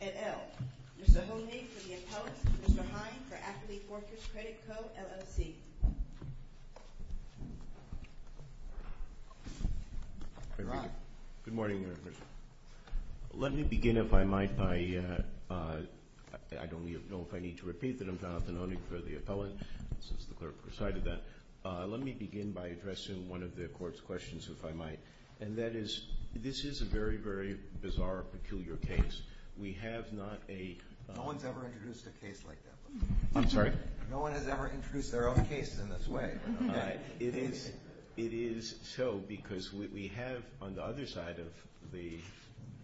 and L. Mr. Honig for the appellate, Mr. Hine for Affiliate Workers Credit Co., LLC. I don't know if I need to repeat that I'm Jonathan Honig for the appellate, since the clerk recited that. Let me begin by addressing one of the Court's questions, if I might, and that is, this is a very, very bizarre, peculiar case. We have not a— No one's ever introduced a case like that. I'm sorry? No one has ever introduced their own case in this way. It is so, because what we have on the other side of the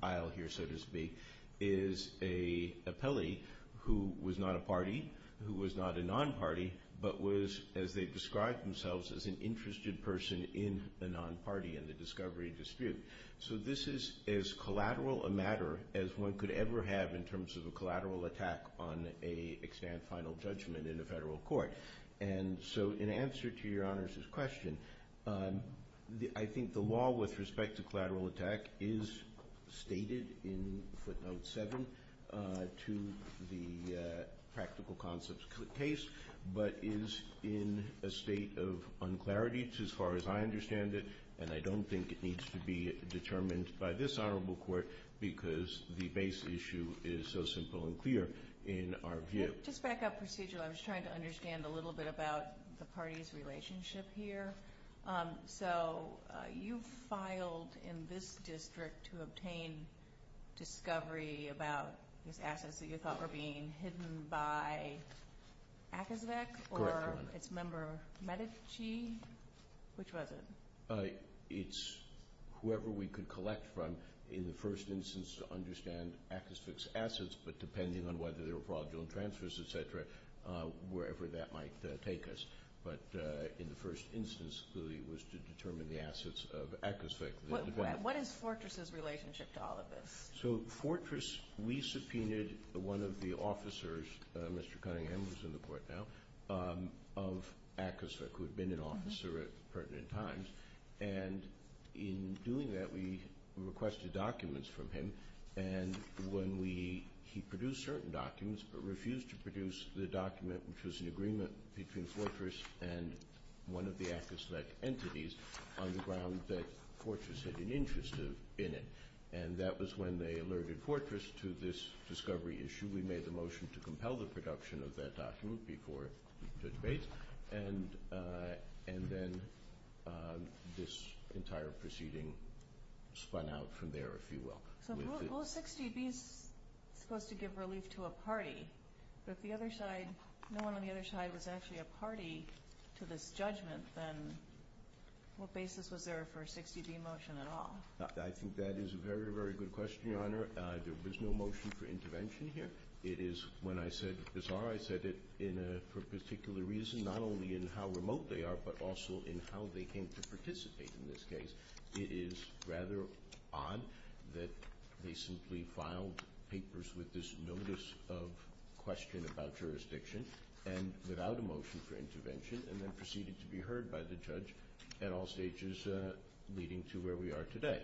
aisle here, so to speak, is an appellee who was not a party, who was not a non-party, but was, as they've described themselves, as an interested person in the non-party and the discovery dispute. So this is as collateral a matter as one could ever have in terms of a collateral attack on a extant final judgment in a federal court. And so in answer to Your Honor's question, I think the law with respect to collateral attack is stated in footnote seven to the practical concepts case, but is in a state of unclarity as far as I understand it, and I don't think it needs to be determined by this Honorable Court because the base issue is so simple and clear in our view. Just back up procedurally. I was trying to understand a little bit about the party's relationship here. So you filed in this district to obtain discovery about these assets that you thought were being hidden by ACASVC or its member Medici? Which was it? It's whoever we could collect from in the first instance to understand ACASVC's assets, but depending on whether there were fraudulent transfers, et cetera, wherever that might take us. But in the first instance, clearly it was to determine the assets of ACASVC. What is Fortress's relationship to all of this? So Fortress, we subpoenaed one of the officers, Mr. Cunningham who's in the court now, of the Pertinent Officer at Pertinent Times, and in doing that we requested documents from him. And when we, he produced certain documents but refused to produce the document which was an agreement between Fortress and one of the ACASVC entities on the ground that Fortress had an interest in it. And that was when they alerted Fortress to this discovery issue. We made the motion to compel the production of that document before the debate, and then this entire proceeding spun out from there, if you will. So 60B is supposed to give relief to a party, but if the other side, no one on the other side was actually a party to this judgment, then what basis was there for a 60B motion at all? There was no motion for intervention here. It is, when I said bizarre, I said it in a, for a particular reason, not only in how remote they are, but also in how they came to participate in this case, it is rather odd that they simply filed papers with this notice of question about jurisdiction and without a motion for intervention, and then proceeded to be heard by the judge at all stages leading to where we are today.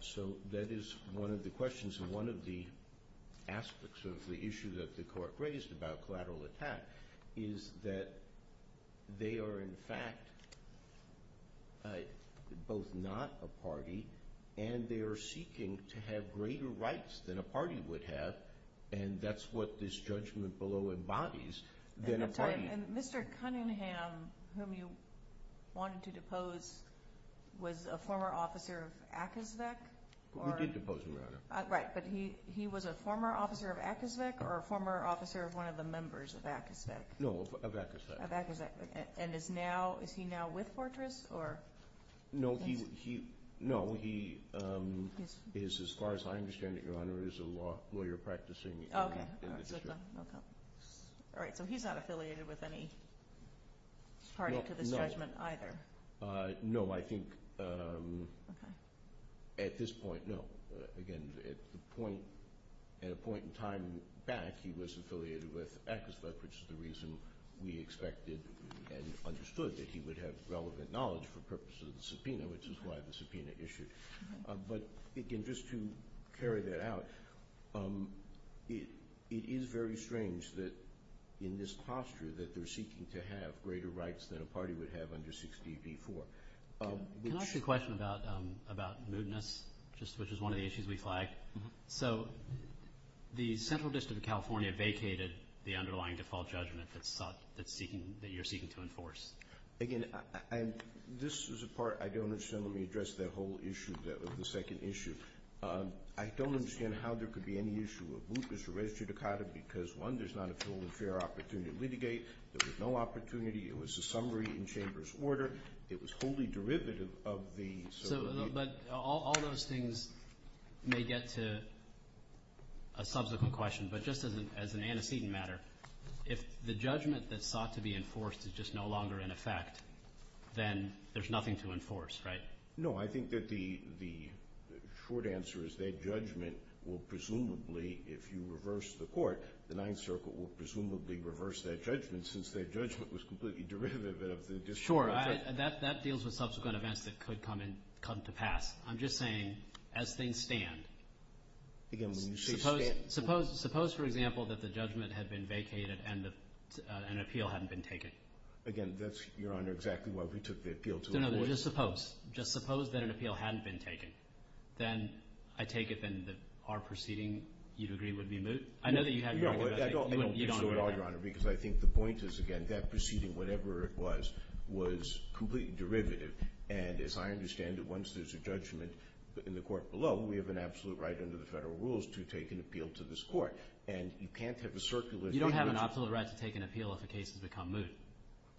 So that is one of the questions, and one of the aspects of the issue that the court raised about collateral attack is that they are in fact both not a party, and they are seeking to have greater rights than a party would have, and that's what this judgment below embodies than a party. And Mr. Cunningham, whom you wanted to depose, was a former officer of AACASVC? We did depose him, Your Honor. Right, but he was a former officer of AACASVC, or a former officer of one of the members of AACASVC? No, of AACASVC. Of AACASVC. And is now, is he now with Fortress, or? No, he, no, he is, as far as I understand it, Your Honor, is a law lawyer practicing in the district. Okay. All right, so he's not affiliated with any party to this judgment either? No, I think at this point, no. Again, at the point, at a point in time back, he was affiliated with AACASVC, which is the reason we expected and understood that he would have relevant knowledge for purposes of the subpoena, which is why the subpoena issued. But, again, just to carry that out, it is very strange that in this posture that they're seeking to have greater rights than a party would have under 60 v. 4. Can I ask you a question about, about mootness, which is one of the issues we flagged? So, the Central District of California vacated the underlying default judgment that sought, that's seeking, that you're seeking to enforce. Again, I'm, this is a part I don't understand. Let me address that whole issue, the second issue. I don't understand how there could be any issue of mootness or res judicata because, one, there's not a full and fair opportunity to litigate. There was no opportunity. It was a summary in Chamber's order. It was wholly derivative of the, so. So, but all those things may get to a subsequent question, but just as an antecedent matter, if the judgment that sought to be enforced is just no longer in effect, then there's nothing to enforce, right? No, I think that the short answer is that judgment will presumably, if you reverse the court, the Ninth Circle will presumably reverse that judgment since that judgment was completely derivative of the. Sure, that deals with subsequent events that could come in, come to pass. I'm just saying, as things stand. Again, when you say stand. Suppose, for example, that the judgment had been vacated and an appeal hadn't been taken. Again, that's, Your Honor, exactly why we took the appeal to enforce. No, no, just suppose. Just suppose that an appeal hadn't been taken. Then I take it then that our proceeding, you'd agree, would be moot? I know that you have your argument. I don't think so at all, Your Honor, because I think the point is, again, that proceeding, whatever it was, was completely derivative. And as I understand it, once there's a judgment in the court below, we have an absolute right under the Federal rules to take an appeal to this court. And you can't have a circular judgment. You don't have an absolute right to take an appeal if a case has become moot.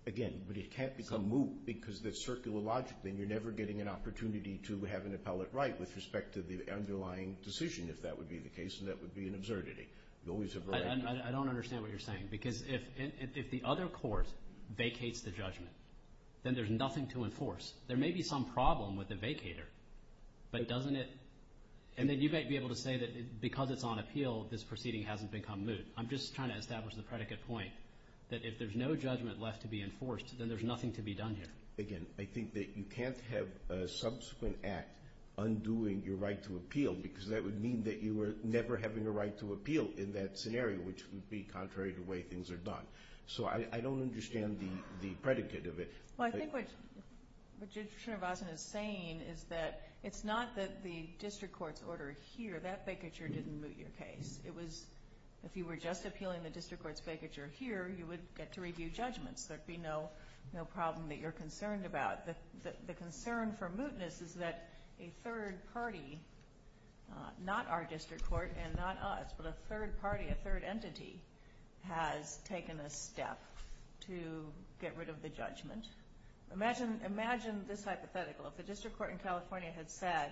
Again, but it can't become moot because that's circular logic. Then you're never getting an opportunity to have an appellate right with respect to the underlying decision, if that would be the case, and that would be an absurdity. You always have a right. I don't understand what you're saying, because if the other court vacates the judgment, then there's nothing to enforce. There may be some problem with the vacator, but doesn't it? And then you might be able to say that because it's on appeal, this proceeding hasn't become moot. I'm just trying to establish the predicate point, that if there's no judgment left to be enforced, then there's nothing to be done here. Again, I think that you can't have a subsequent act undoing your right to appeal, because that would mean that you were never having a right to appeal in that scenario, which would be contrary to the way things are done. So I don't understand the predicate of it. Well, I think what Judge Srinivasan is saying is that it's not that the district court's order here, that vacature didn't moot your case. It was if you were just appealing the district court's vacature here, you would get to review judgments. There would be no problem that you're concerned about. The concern for mootness is that a third party, not our district court and not us, but a third party, a third entity has taken a step to get rid of the judgment. Imagine this hypothetical. If the district court in California had said,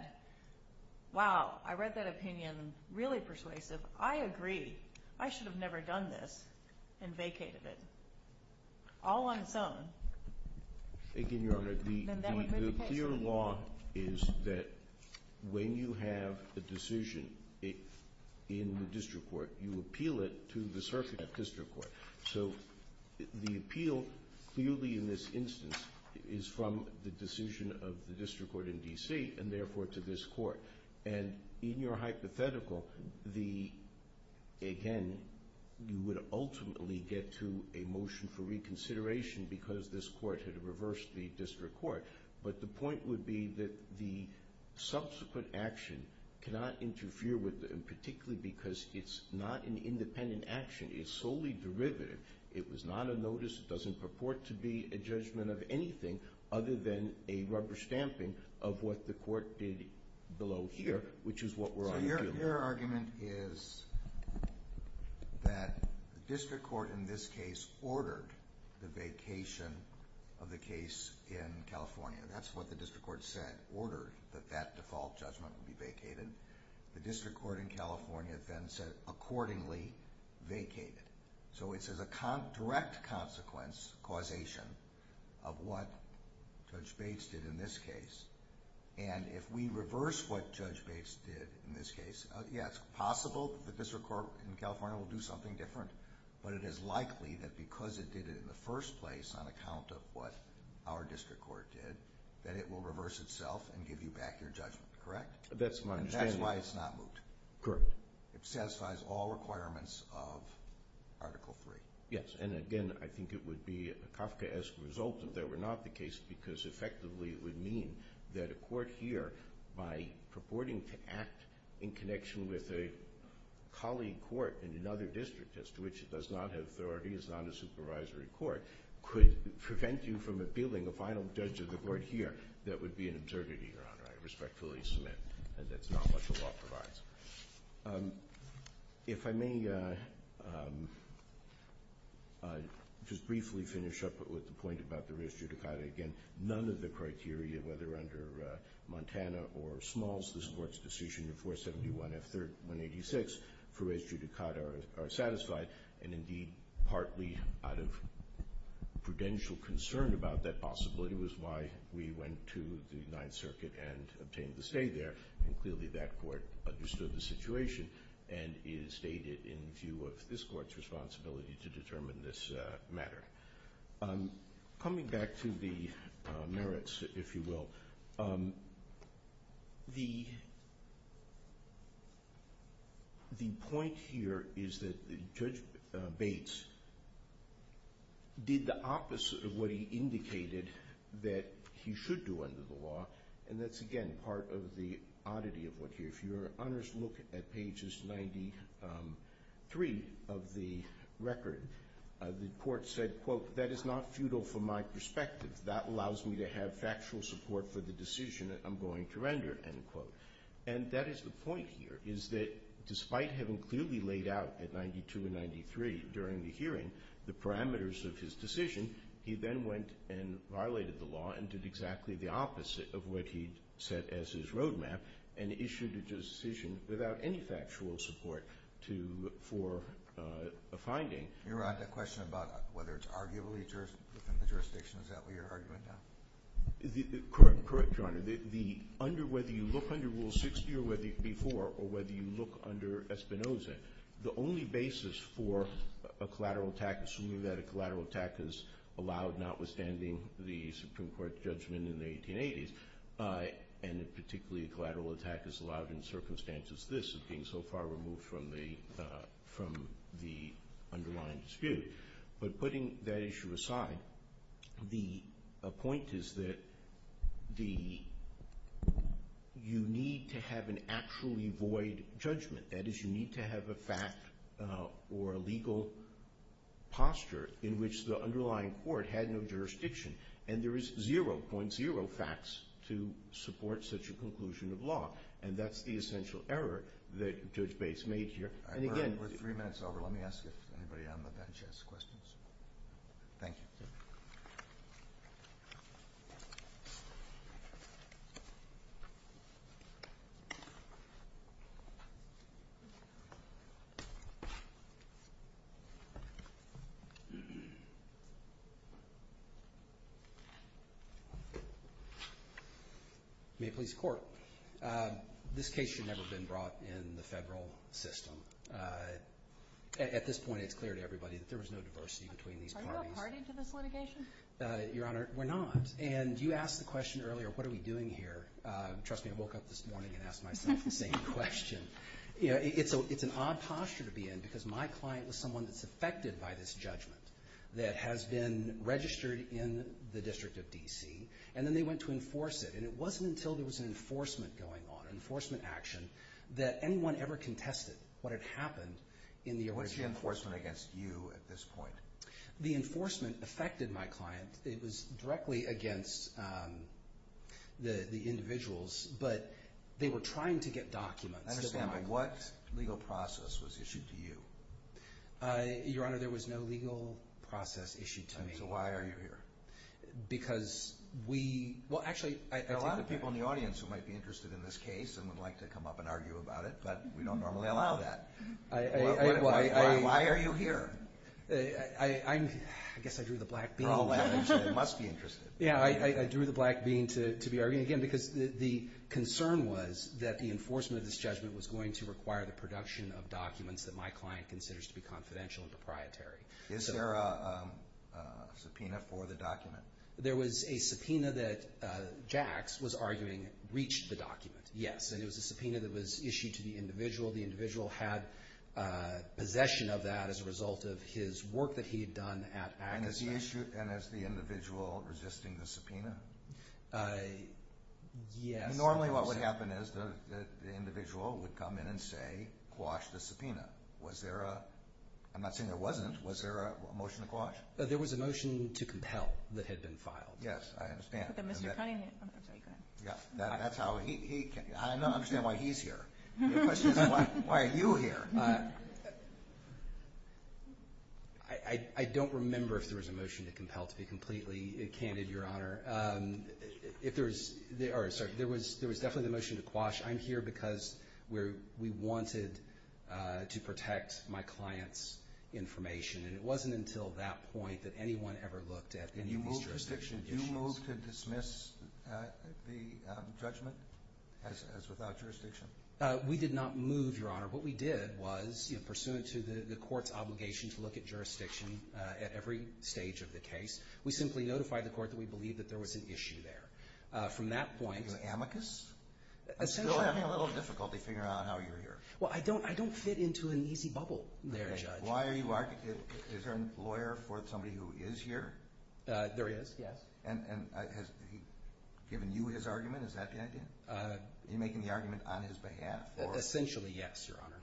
wow, I read that opinion, really persuasive. I agree. I should have never done this and vacated it. All on its own. Again, Your Honor, the clear law is that when you have a decision in the district court, you appeal it to the circuit of district court. So the appeal clearly in this instance is from the decision of the district court in D.C. and therefore to this court. And in your hypothetical, again, you would ultimately get to a motion for reconsideration because this court had reversed the district court. But the point would be that the subsequent action cannot interfere with it, and particularly because it's not an independent action. It's solely derivative. It was not a notice. It doesn't purport to be a judgment of anything other than a rubber stamping of what the court did below here, which is what we're arguing. Your argument is that the district court in this case ordered the vacation of the case in California. That's what the district court said, ordered that that default judgment would be vacated. The district court in California then said accordingly vacated. So it's as a direct consequence, causation, of what Judge Bates did in this case. And if we reverse what Judge Bates did in this case, yes, it's possible that the district court in California will do something different. But it is likely that because it did it in the first place on account of what our district court did, that it will reverse itself and give you back your judgment, correct? That's my understanding. And that's why it's not moved. Correct. It satisfies all requirements of Article III. Yes, and again, I think it would be a Kafkaesque result if that were not the case because effectively it would mean that a court here, by purporting to act in connection with a colleague court in another district, as to which it does not have authority, is not a supervisory court, could prevent you from appealing a final judge of the court here. That would be an absurdity, Your Honor. I respectfully submit that that's not what the law provides. If I may just briefly finish up with the point about the res judicata. Again, none of the criteria, whether under Montana or Smalls, this Court's decision in 471F186 for res judicata are satisfied, and indeed partly out of prudential concern about that possibility, was why we went to the Ninth Circuit and obtained the stay there. And clearly that court understood the situation and is stated in view of this Court's responsibility to determine this matter. Coming back to the merits, if you will, the point here is that Judge Bates did the opposite of what he indicated that he should do under the law, and that's, again, part of the oddity of what here. If you, Your Honors, look at pages 93 of the record, the Court said, quote, that is not futile from my perspective. That allows me to have factual support for the decision I'm going to render, end quote. And that is the point here, is that despite having clearly laid out at 92 and 93 during the hearing the parameters of his decision, he then went and violated the law and did exactly the opposite of what he'd set as his roadmap and issued a decision without any factual support for a finding. Your Honor, the question about whether it's arguably within the jurisdiction, is that what you're arguing now? Correct, Your Honor. Whether you look under Rule 60 or before, or whether you look under Espinoza, the only basis for a collateral attack, is allowed notwithstanding the Supreme Court judgment in the 1880s, and particularly a collateral attack is allowed in circumstances this, of being so far removed from the underlying dispute. But putting that issue aside, the point is that you need to have an actually void judgment. That is, you need to have a fact or a legal posture in which the underlying court had no jurisdiction, and there is 0.0 facts to support such a conclusion of law. And that's the essential error that Judge Bates made here. All right, we're three minutes over. Let me ask if anybody on the bench has questions. Thank you. May it please the Court. This case should never have been brought in the federal system. At this point, it's clear to everybody that there was no diversity between these parties. Are you a party to this litigation? Your Honor, we're not. And you asked the question earlier, what are we doing here? Trust me, I woke up this morning and asked myself the same question. It's an odd posture to be in, because my client was someone that's affected by this judgment that has been registered in the District of D.C., and then they went to enforce it. And it wasn't until there was an enforcement going on, that anyone ever contested what had happened in the original court. What's the enforcement against you at this point? The enforcement affected my client. It was directly against the individuals, but they were trying to get documents. I understand, but what legal process was issued to you? Your Honor, there was no legal process issued to me. So why are you here? Because we – well, actually, there are a lot of people in the audience who might be interested in this case and would like to come up and argue about it, but we don't normally allow that. Why are you here? I guess I drew the black bean. Oh, well, it must be interesting. Yeah, I drew the black bean to be arguing, again, because the concern was that the enforcement of this judgment was going to require the production of documents that my client considers to be confidential and proprietary. Is there a subpoena for the document? There was a subpoena that Jacks was arguing reached the document, yes, and it was a subpoena that was issued to the individual. The individual had possession of that as a result of his work that he had done at Agassiz. And is the individual resisting the subpoena? Yes. Normally what would happen is the individual would come in and say, quash the subpoena. Was there a – I'm not saying there wasn't. Was there a motion to quash? There was a motion to compel that had been filed. Yes, I understand. That's how he – I don't understand why he's here. The question is why are you here? I don't remember if there was a motion to compel to be completely candid, Your Honor. If there was – sorry, there was definitely the motion to quash. I'm here because we wanted to protect my client's information, and it wasn't until that point that anyone ever looked at any of these jurisdiction issues. And you moved to dismiss the judgment as without jurisdiction? We did not move, Your Honor. What we did was, you know, pursuant to the court's obligation to look at jurisdiction at every stage of the case, we simply notified the court that we believed that there was an issue there. From that point – Are you an amicus? I'm still having a little difficulty figuring out how you're here. Well, I don't fit into an easy bubble there, Judge. Why are you – is there a lawyer for somebody who is here? There is, yes. And has he given you his argument? Is that the idea? Are you making the argument on his behalf? Essentially, yes, Your Honor.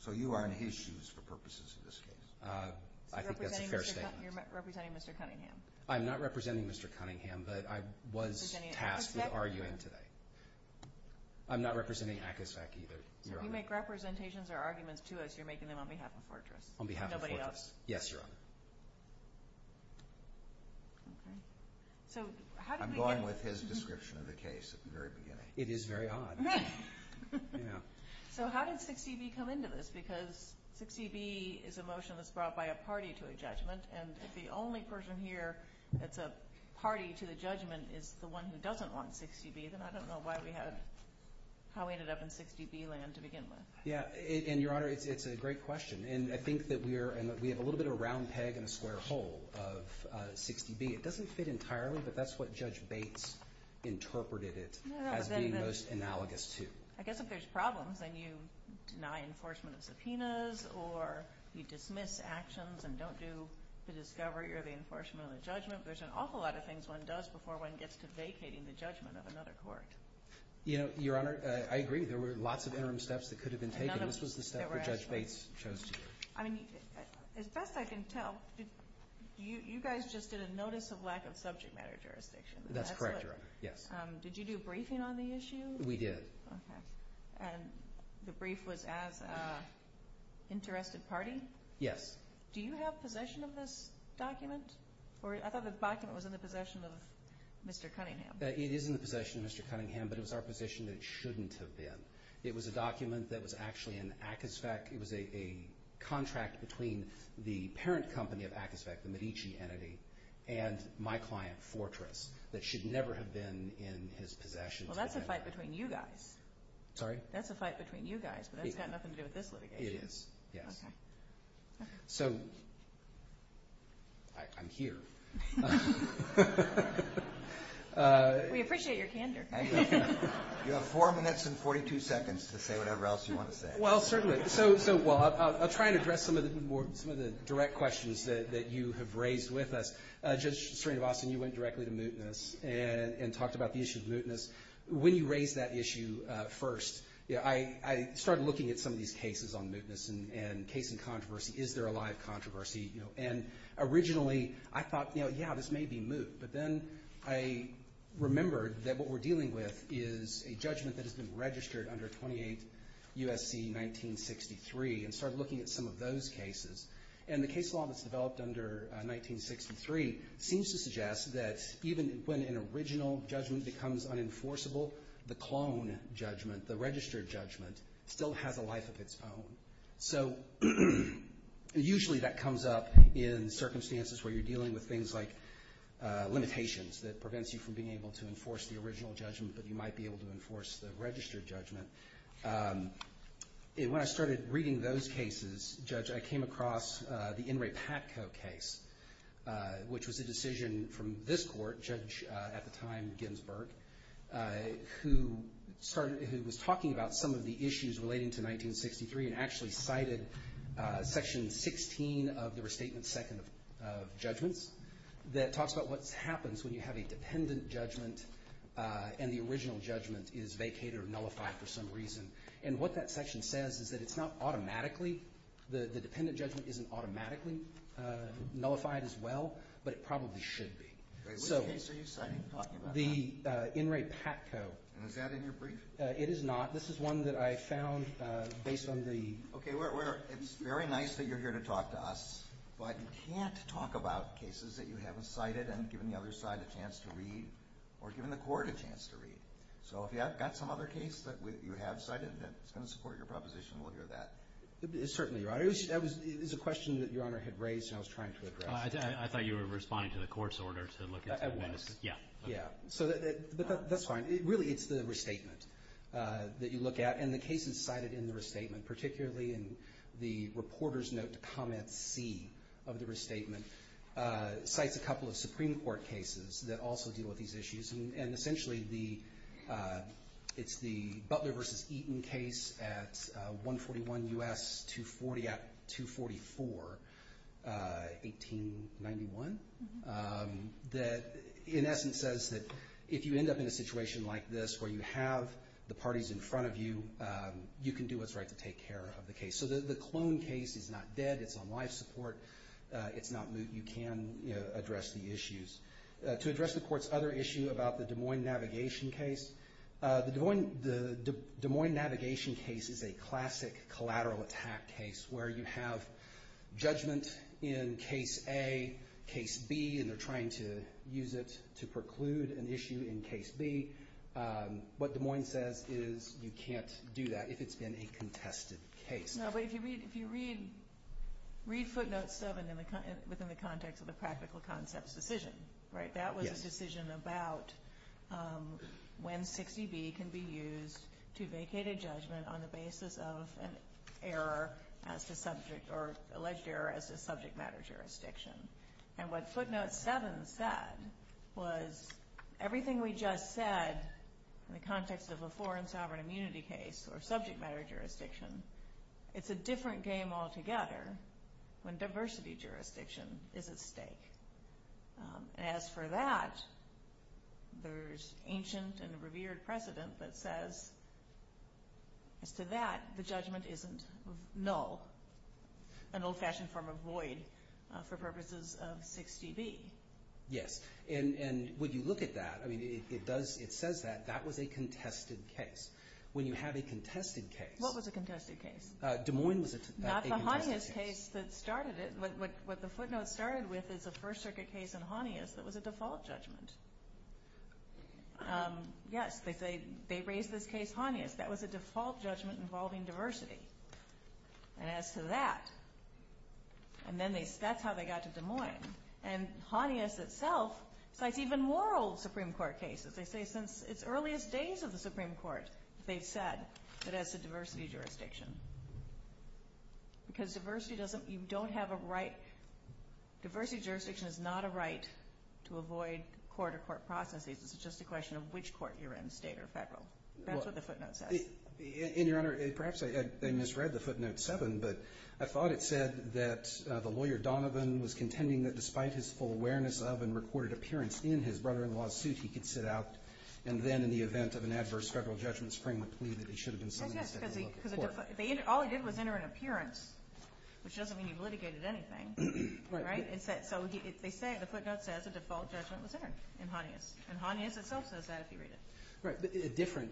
So you are in his shoes for purposes of this case? I think that's a fair statement. So you're representing Mr. Cunningham? I'm not representing Mr. Cunningham, but I was tasked with arguing today. Is he representing ACASEC? I'm not representing ACASEC either, Your Honor. So if you make representations or arguments to us, you're making them on behalf of Fortress? On behalf of Fortress. Nobody else? Yes, Your Honor. I'm going with his description of the case at the very beginning. It is very odd. So how did 60B come into this? Because 60B is a motion that's brought by a party to a judgment, and if the only person here that's a party to the judgment is the one who doesn't want 60B, then I don't know how we ended up in 60B land to begin with. Yeah, and Your Honor, it's a great question. And I think that we have a little bit of a round peg in a square hole of 60B. It doesn't fit entirely, but that's what Judge Bates interpreted it as being most analogous to. I guess if there's problems and you deny enforcement of subpoenas or you dismiss actions and don't do the discovery or the enforcement of the judgment, there's an awful lot of things one does before one gets to vacating the judgment of another court. Your Honor, I agree. There were lots of interim steps that could have been taken. This was the step that Judge Bates chose to do. As best I can tell, you guys just did a notice of lack of subject matter jurisdiction. That's correct, Your Honor. Did you do a briefing on the issue? We did. And the brief was as an interested party? Yes. Do you have possession of this document? I thought the document was in the possession of Mr. Cunningham. It is in the possession of Mr. Cunningham, but it was our position that it shouldn't have been. It was a document that was actually in Akisfak. It was a contract between the parent company of Akisfak, the Medici entity, and my client, Fortress, that should never have been in his possession. Well, that's a fight between you guys. Sorry? That's a fight between you guys, but that's got nothing to do with this litigation. It is, yes. Okay. So I'm here. We appreciate your candor. You have four minutes and 42 seconds to say whatever else you want to say. Well, certainly. So I'll try and address some of the direct questions that you have raised with us. Judge Serena Boston, you went directly to mootness and talked about the issue of mootness. When you raised that issue first, I started looking at some of these cases on mootness and case and controversy. Is there a lot of controversy? And originally I thought, you know, yeah, this may be moot. But then I remembered that what we're dealing with is a judgment that has been registered under 28 U.S.C. 1963 and started looking at some of those cases. And the case law that's developed under 1963 seems to suggest that even when an original judgment becomes unenforceable, the clone judgment, the registered judgment, still has a life of its own. So usually that comes up in circumstances where you're dealing with things like limitations that prevents you from being able to enforce the original judgment, but you might be able to enforce the registered judgment. When I started reading those cases, Judge, I came across the In re Paco case, which was a decision from this court, Judge, at the time, Ginsburg, who started, who was talking about some of the issues relating to 1963 and actually cited Section 16 of the Restatement Second of Judgments that talks about what happens when you have a dependent judgment and the original judgment is vacated or nullified for some reason. And what that section says is that it's not automatically, the dependent judgment isn't automatically nullified as well, but it probably should be. Which case are you citing? The In re Paco. And is that in your brief? It is not. This is one that I found based on the... Okay, it's very nice that you're here to talk to us, but you can't talk about cases that you haven't cited and given the other side a chance to read or given the court a chance to read. So if you have got some other case that you have cited, it's going to support your proposition, we'll hear that. Certainly, Your Honor. It was a question that Your Honor had raised and I was trying to address it. I thought you were responding to the court's order to look at... I was. Yeah. But that's fine. Really, it's the restatement that you look at, and the cases cited in the restatement, particularly in the reporter's note to comment C of the restatement, cites a couple of Supreme Court cases that also deal with these issues. And essentially, it's the Butler v. Eaton case at 141 U.S. 240 at 244, 1891, that in essence says that if you end up in a situation like this where you have the parties in front of you, you can do what's right to take care of the case. So the clone case is not dead. It's on life support. It's not moot. You can address the issues. To address the court's other issue about the Des Moines Navigation case, the Des Moines Navigation case is a classic collateral attack case where you have judgment in case A, case B, and they're trying to use it to preclude an issue in case B. What Des Moines says is you can't do that if it's been a contested case. No, but if you read footnote 7 within the context of the practical concepts decision, that was a decision about when 60B can be used to vacate a judgment on the basis of an alleged error as to subject matter jurisdiction. And what footnote 7 said was everything we just said in the context of a foreign sovereign immunity case or subject matter jurisdiction, it's a different game altogether when diversity jurisdiction is at stake. And as for that, there's ancient and revered precedent that says as to that, the judgment isn't null, an old-fashioned form of void for purposes of 60B. Yes, and when you look at that, it says that that was a contested case. When you have a contested case. What was a contested case? Des Moines was a contested case. Not the Hanius case that started it. What the footnotes started with is a First Circuit case in Hanius that was a default judgment. Yes, they say they raised this case Hanius. That was a default judgment involving diversity. And as to that, and then that's how they got to Des Moines. And Hanius itself cites even more old Supreme Court cases. They say since its earliest days of the Supreme Court, they've said that it's a diversity jurisdiction. Because diversity doesn't, you don't have a right. Diversity jurisdiction is not a right to avoid court-to-court processes. It's just a question of which court you're in, state or federal. That's what the footnote says. And, Your Honor, perhaps they misread the footnote 7, but I thought it said that the lawyer Donovan was contending that despite his full awareness of and recorded appearance in his brother-in-law's suit, he could sit out and then, in the event of an adverse federal judgment, scream the plea that he should have been sent to look at court. All he did was enter an appearance, which doesn't mean he litigated anything. So the footnote says a default judgment was entered in Hanius. And Hanius itself says that if you read it. Right, but a different,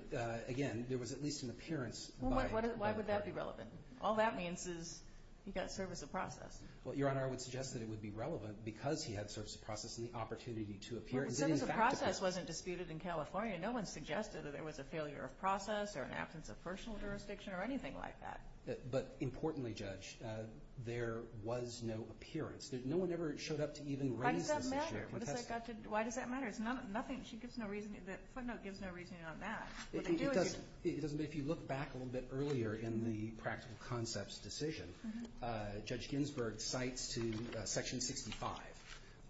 again, there was at least an appearance. Why would that be relevant? All that means is he got service of process. Well, Your Honor, I would suggest that it would be relevant because he had service of process and the opportunity to appear. But service of process wasn't disputed in California. No one suggested that there was a failure of process or an absence of personal jurisdiction or anything like that. But, importantly, Judge, there was no appearance. No one ever showed up to even raise this issue. Why does that matter? Why does that matter? It's nothing. The footnote gives no reasoning on that. It doesn't, but if you look back a little bit earlier in the practical concepts decision, Judge Ginsburg cites to Section 65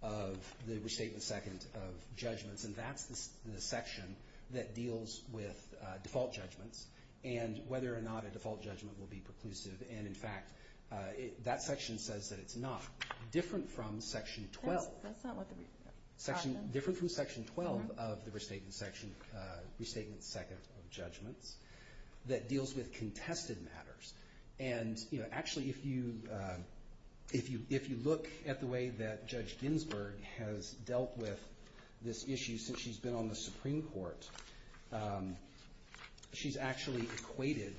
of the Restatement Second of Judgments. And that's the section that deals with default judgments and whether or not a default judgment will be preclusive. And, in fact, that section says that it's not. Different from Section 12. That's not what the question is. Different from Section 12 of the Restatement Second of Judgments that deals with contested matters. And, you know, actually, if you look at the way that Judge Ginsburg has dealt with this issue since she's been on the Supreme Court, she's actually equated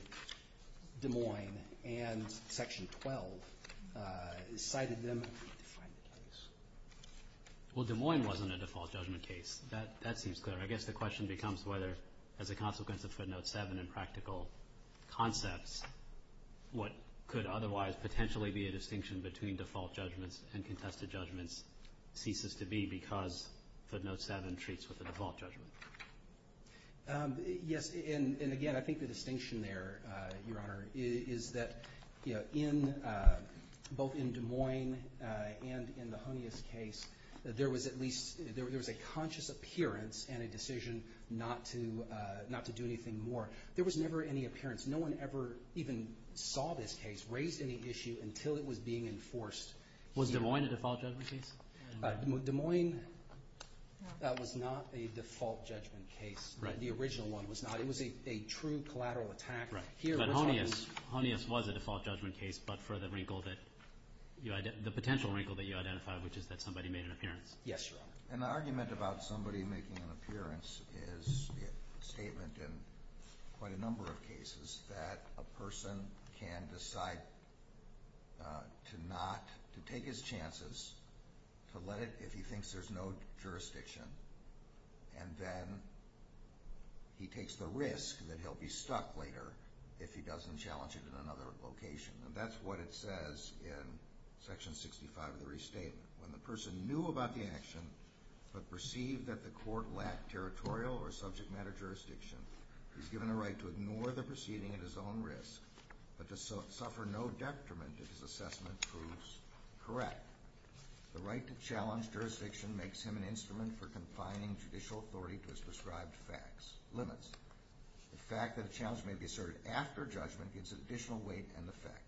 Des Moines and Section 12. Cited them in a different place. Well, Des Moines wasn't a default judgment case. That seems clear. I guess the question becomes whether, as a consequence of footnote 7 in practical concepts, what could otherwise potentially be a distinction between default judgments and contested judgments ceases to be because footnote 7 treats with a default judgment. Yes. And, again, I think the distinction there, Your Honor, is that both in Des Moines and in the Honius case, there was at least a conscious appearance and a decision not to do anything more. There was never any appearance. No one ever even saw this case, raised any issue, until it was being enforced. Was Des Moines a default judgment case? Des Moines was not a default judgment case. The original one was not. It was a true collateral attack. But Honius was a default judgment case, but for the potential wrinkle that you identified, which is that somebody made an appearance. Yes, Your Honor. An argument about somebody making an appearance is a statement in quite a number of cases that a person can decide to take his chances, to let it if he thinks there's no jurisdiction, and then he takes the risk that he'll be stuck later if he doesn't challenge it in another location. That's what it says in Section 65 of the Restatement. When the person knew about the action, but perceived that the court lacked territorial or subject matter jurisdiction, he's given a right to ignore the proceeding at his own risk, but to suffer no detriment if his assessment proves correct. The right to challenge jurisdiction makes him an instrument for confining judicial authority to his prescribed facts limits. The fact that a challenge may be asserted after judgment gives it additional weight and effect.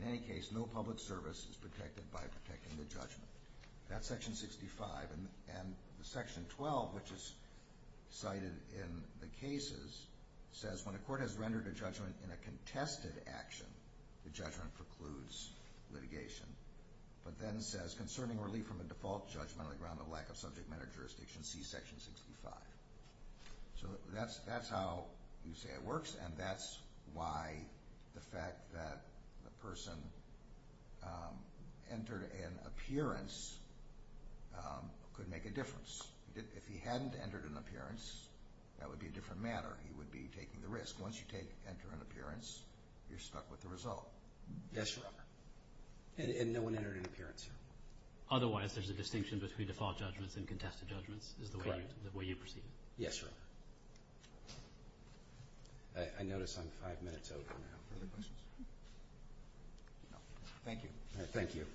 In any case, no public service is protected by protecting the judgment. That's Section 65. And Section 12, which is cited in the cases, says when a court has rendered a judgment in a contested action, the judgment precludes litigation, but then says concerning relief from a default judgment on the ground of lack of subject matter jurisdiction, see Section 65. So that's how you say it works, and that's why the fact that the person entered an appearance could make a difference. If he hadn't entered an appearance, that would be a different matter. He would be taking the risk. Once you enter an appearance, you're stuck with the result. Yes, Your Honor. And no one entered an appearance here. Otherwise, there's a distinction between default judgments and contested judgments is the way you perceive it. Yes, Your Honor. I notice I'm five minutes over now. Further questions? No. Thank you. Thank you.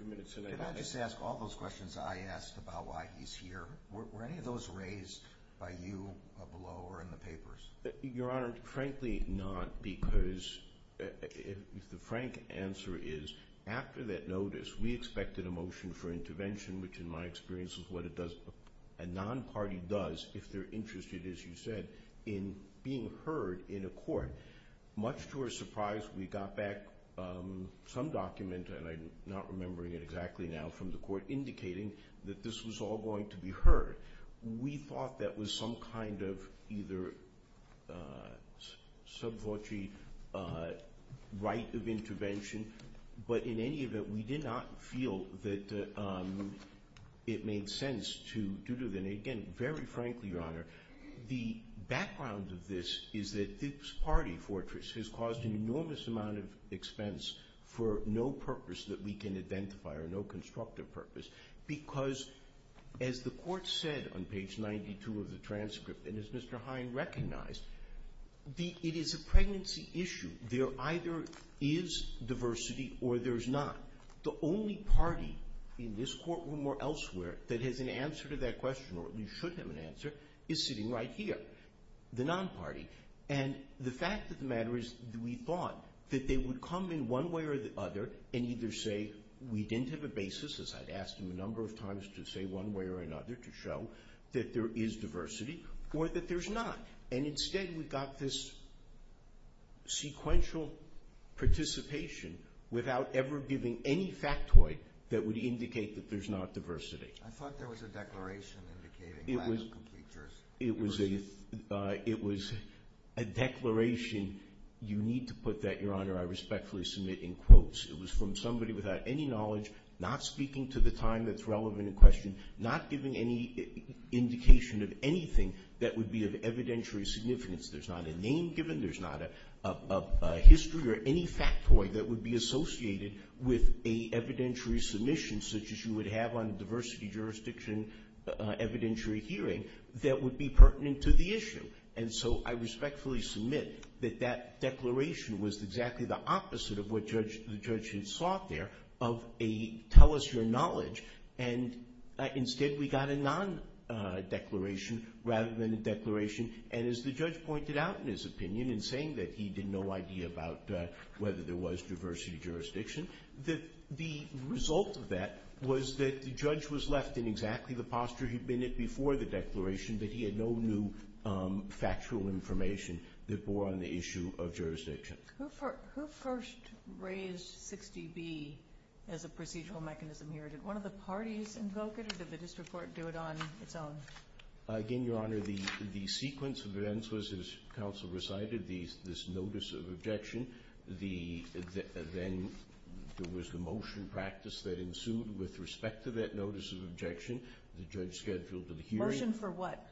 Can I just ask all those questions I asked about why he's here, were any of those raised by you below or in the papers? Your Honor, frankly not, because the frank answer is after that notice, we expected a motion for intervention, which in my experience is what a non-party does if they're interested, as you said, in being heard in a court. Much to our surprise, we got back some document, and I'm not remembering it exactly now from the court, indicating that this was all going to be heard. We thought that was some kind of either sub-votee right of intervention, but in any event, we did not feel that it made sense to do it. And again, very frankly, Your Honor, the background of this is that this party fortress has caused an enormous amount of expense for no purpose that we can identify or no constructive purpose, because as the court said on page 92 of the transcript, and as Mr. Hine recognized, it is a pregnancy issue. There either is diversity or there's not. The only party in this courtroom or elsewhere that has an answer to that question, or at least should have an answer, is sitting right here, the non-party. And the fact of the matter is that we thought that they would come in one way or the other and either say we didn't have a basis, as I'd asked them a number of times to say one way or another, to show that there is diversity, or that there's not. And instead, we got this sequential participation without ever giving any factoid that would indicate that there's not diversity. I thought there was a declaration indicating that is completely true. It was a declaration. You need to put that, Your Honor, I respectfully submit in quotes. It was from somebody without any knowledge, not speaking to the time that's relevant in question, not giving any indication of anything that would be of evidentiary significance. There's not a name given. There's not a history or any factoid that would be associated with an evidentiary submission, such as you would have on a diversity jurisdiction evidentiary hearing, that would be pertinent to the issue. And so I respectfully submit that that declaration was exactly the opposite of what the judge had sought there, of a tell us your knowledge, and instead we got a non-declaration rather than a declaration. And as the judge pointed out in his opinion in saying that he had no idea about whether there was diversity jurisdiction, that the result of that was that the judge was left in exactly the posture he'd been in before the declaration, that he had no new factual information that bore on the issue of jurisdiction. Who first raised 60B as a procedural mechanism here? Did one of the parties invoke it, or did the district court do it on its own? Again, Your Honor, the sequence of events was, as counsel recited, this notice of objection. Then there was the motion practice that ensued with respect to that notice of objection. The judge scheduled the hearing. Motion for what?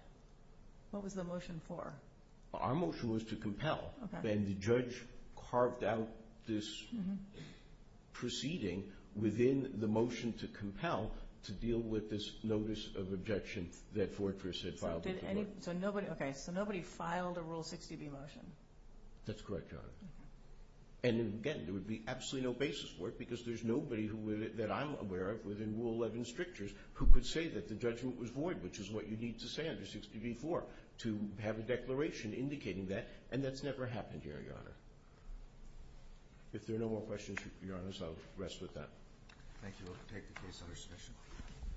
What was the motion for? Our motion was to compel. And the judge carved out this proceeding within the motion to compel to deal with this notice of objection that Fortress had filed. So nobody filed a Rule 60B motion? That's correct, Your Honor. And again, there would be absolutely no basis for it because there's nobody that I'm aware of within Rule 11 strictures who could say that the judgment was void, which is what you need to say under 60B-4, to have a declaration indicating that, and that's never happened here, Your Honor. If there are no more questions, Your Honor, I'll rest with that. Thank you. We'll take the case under submission.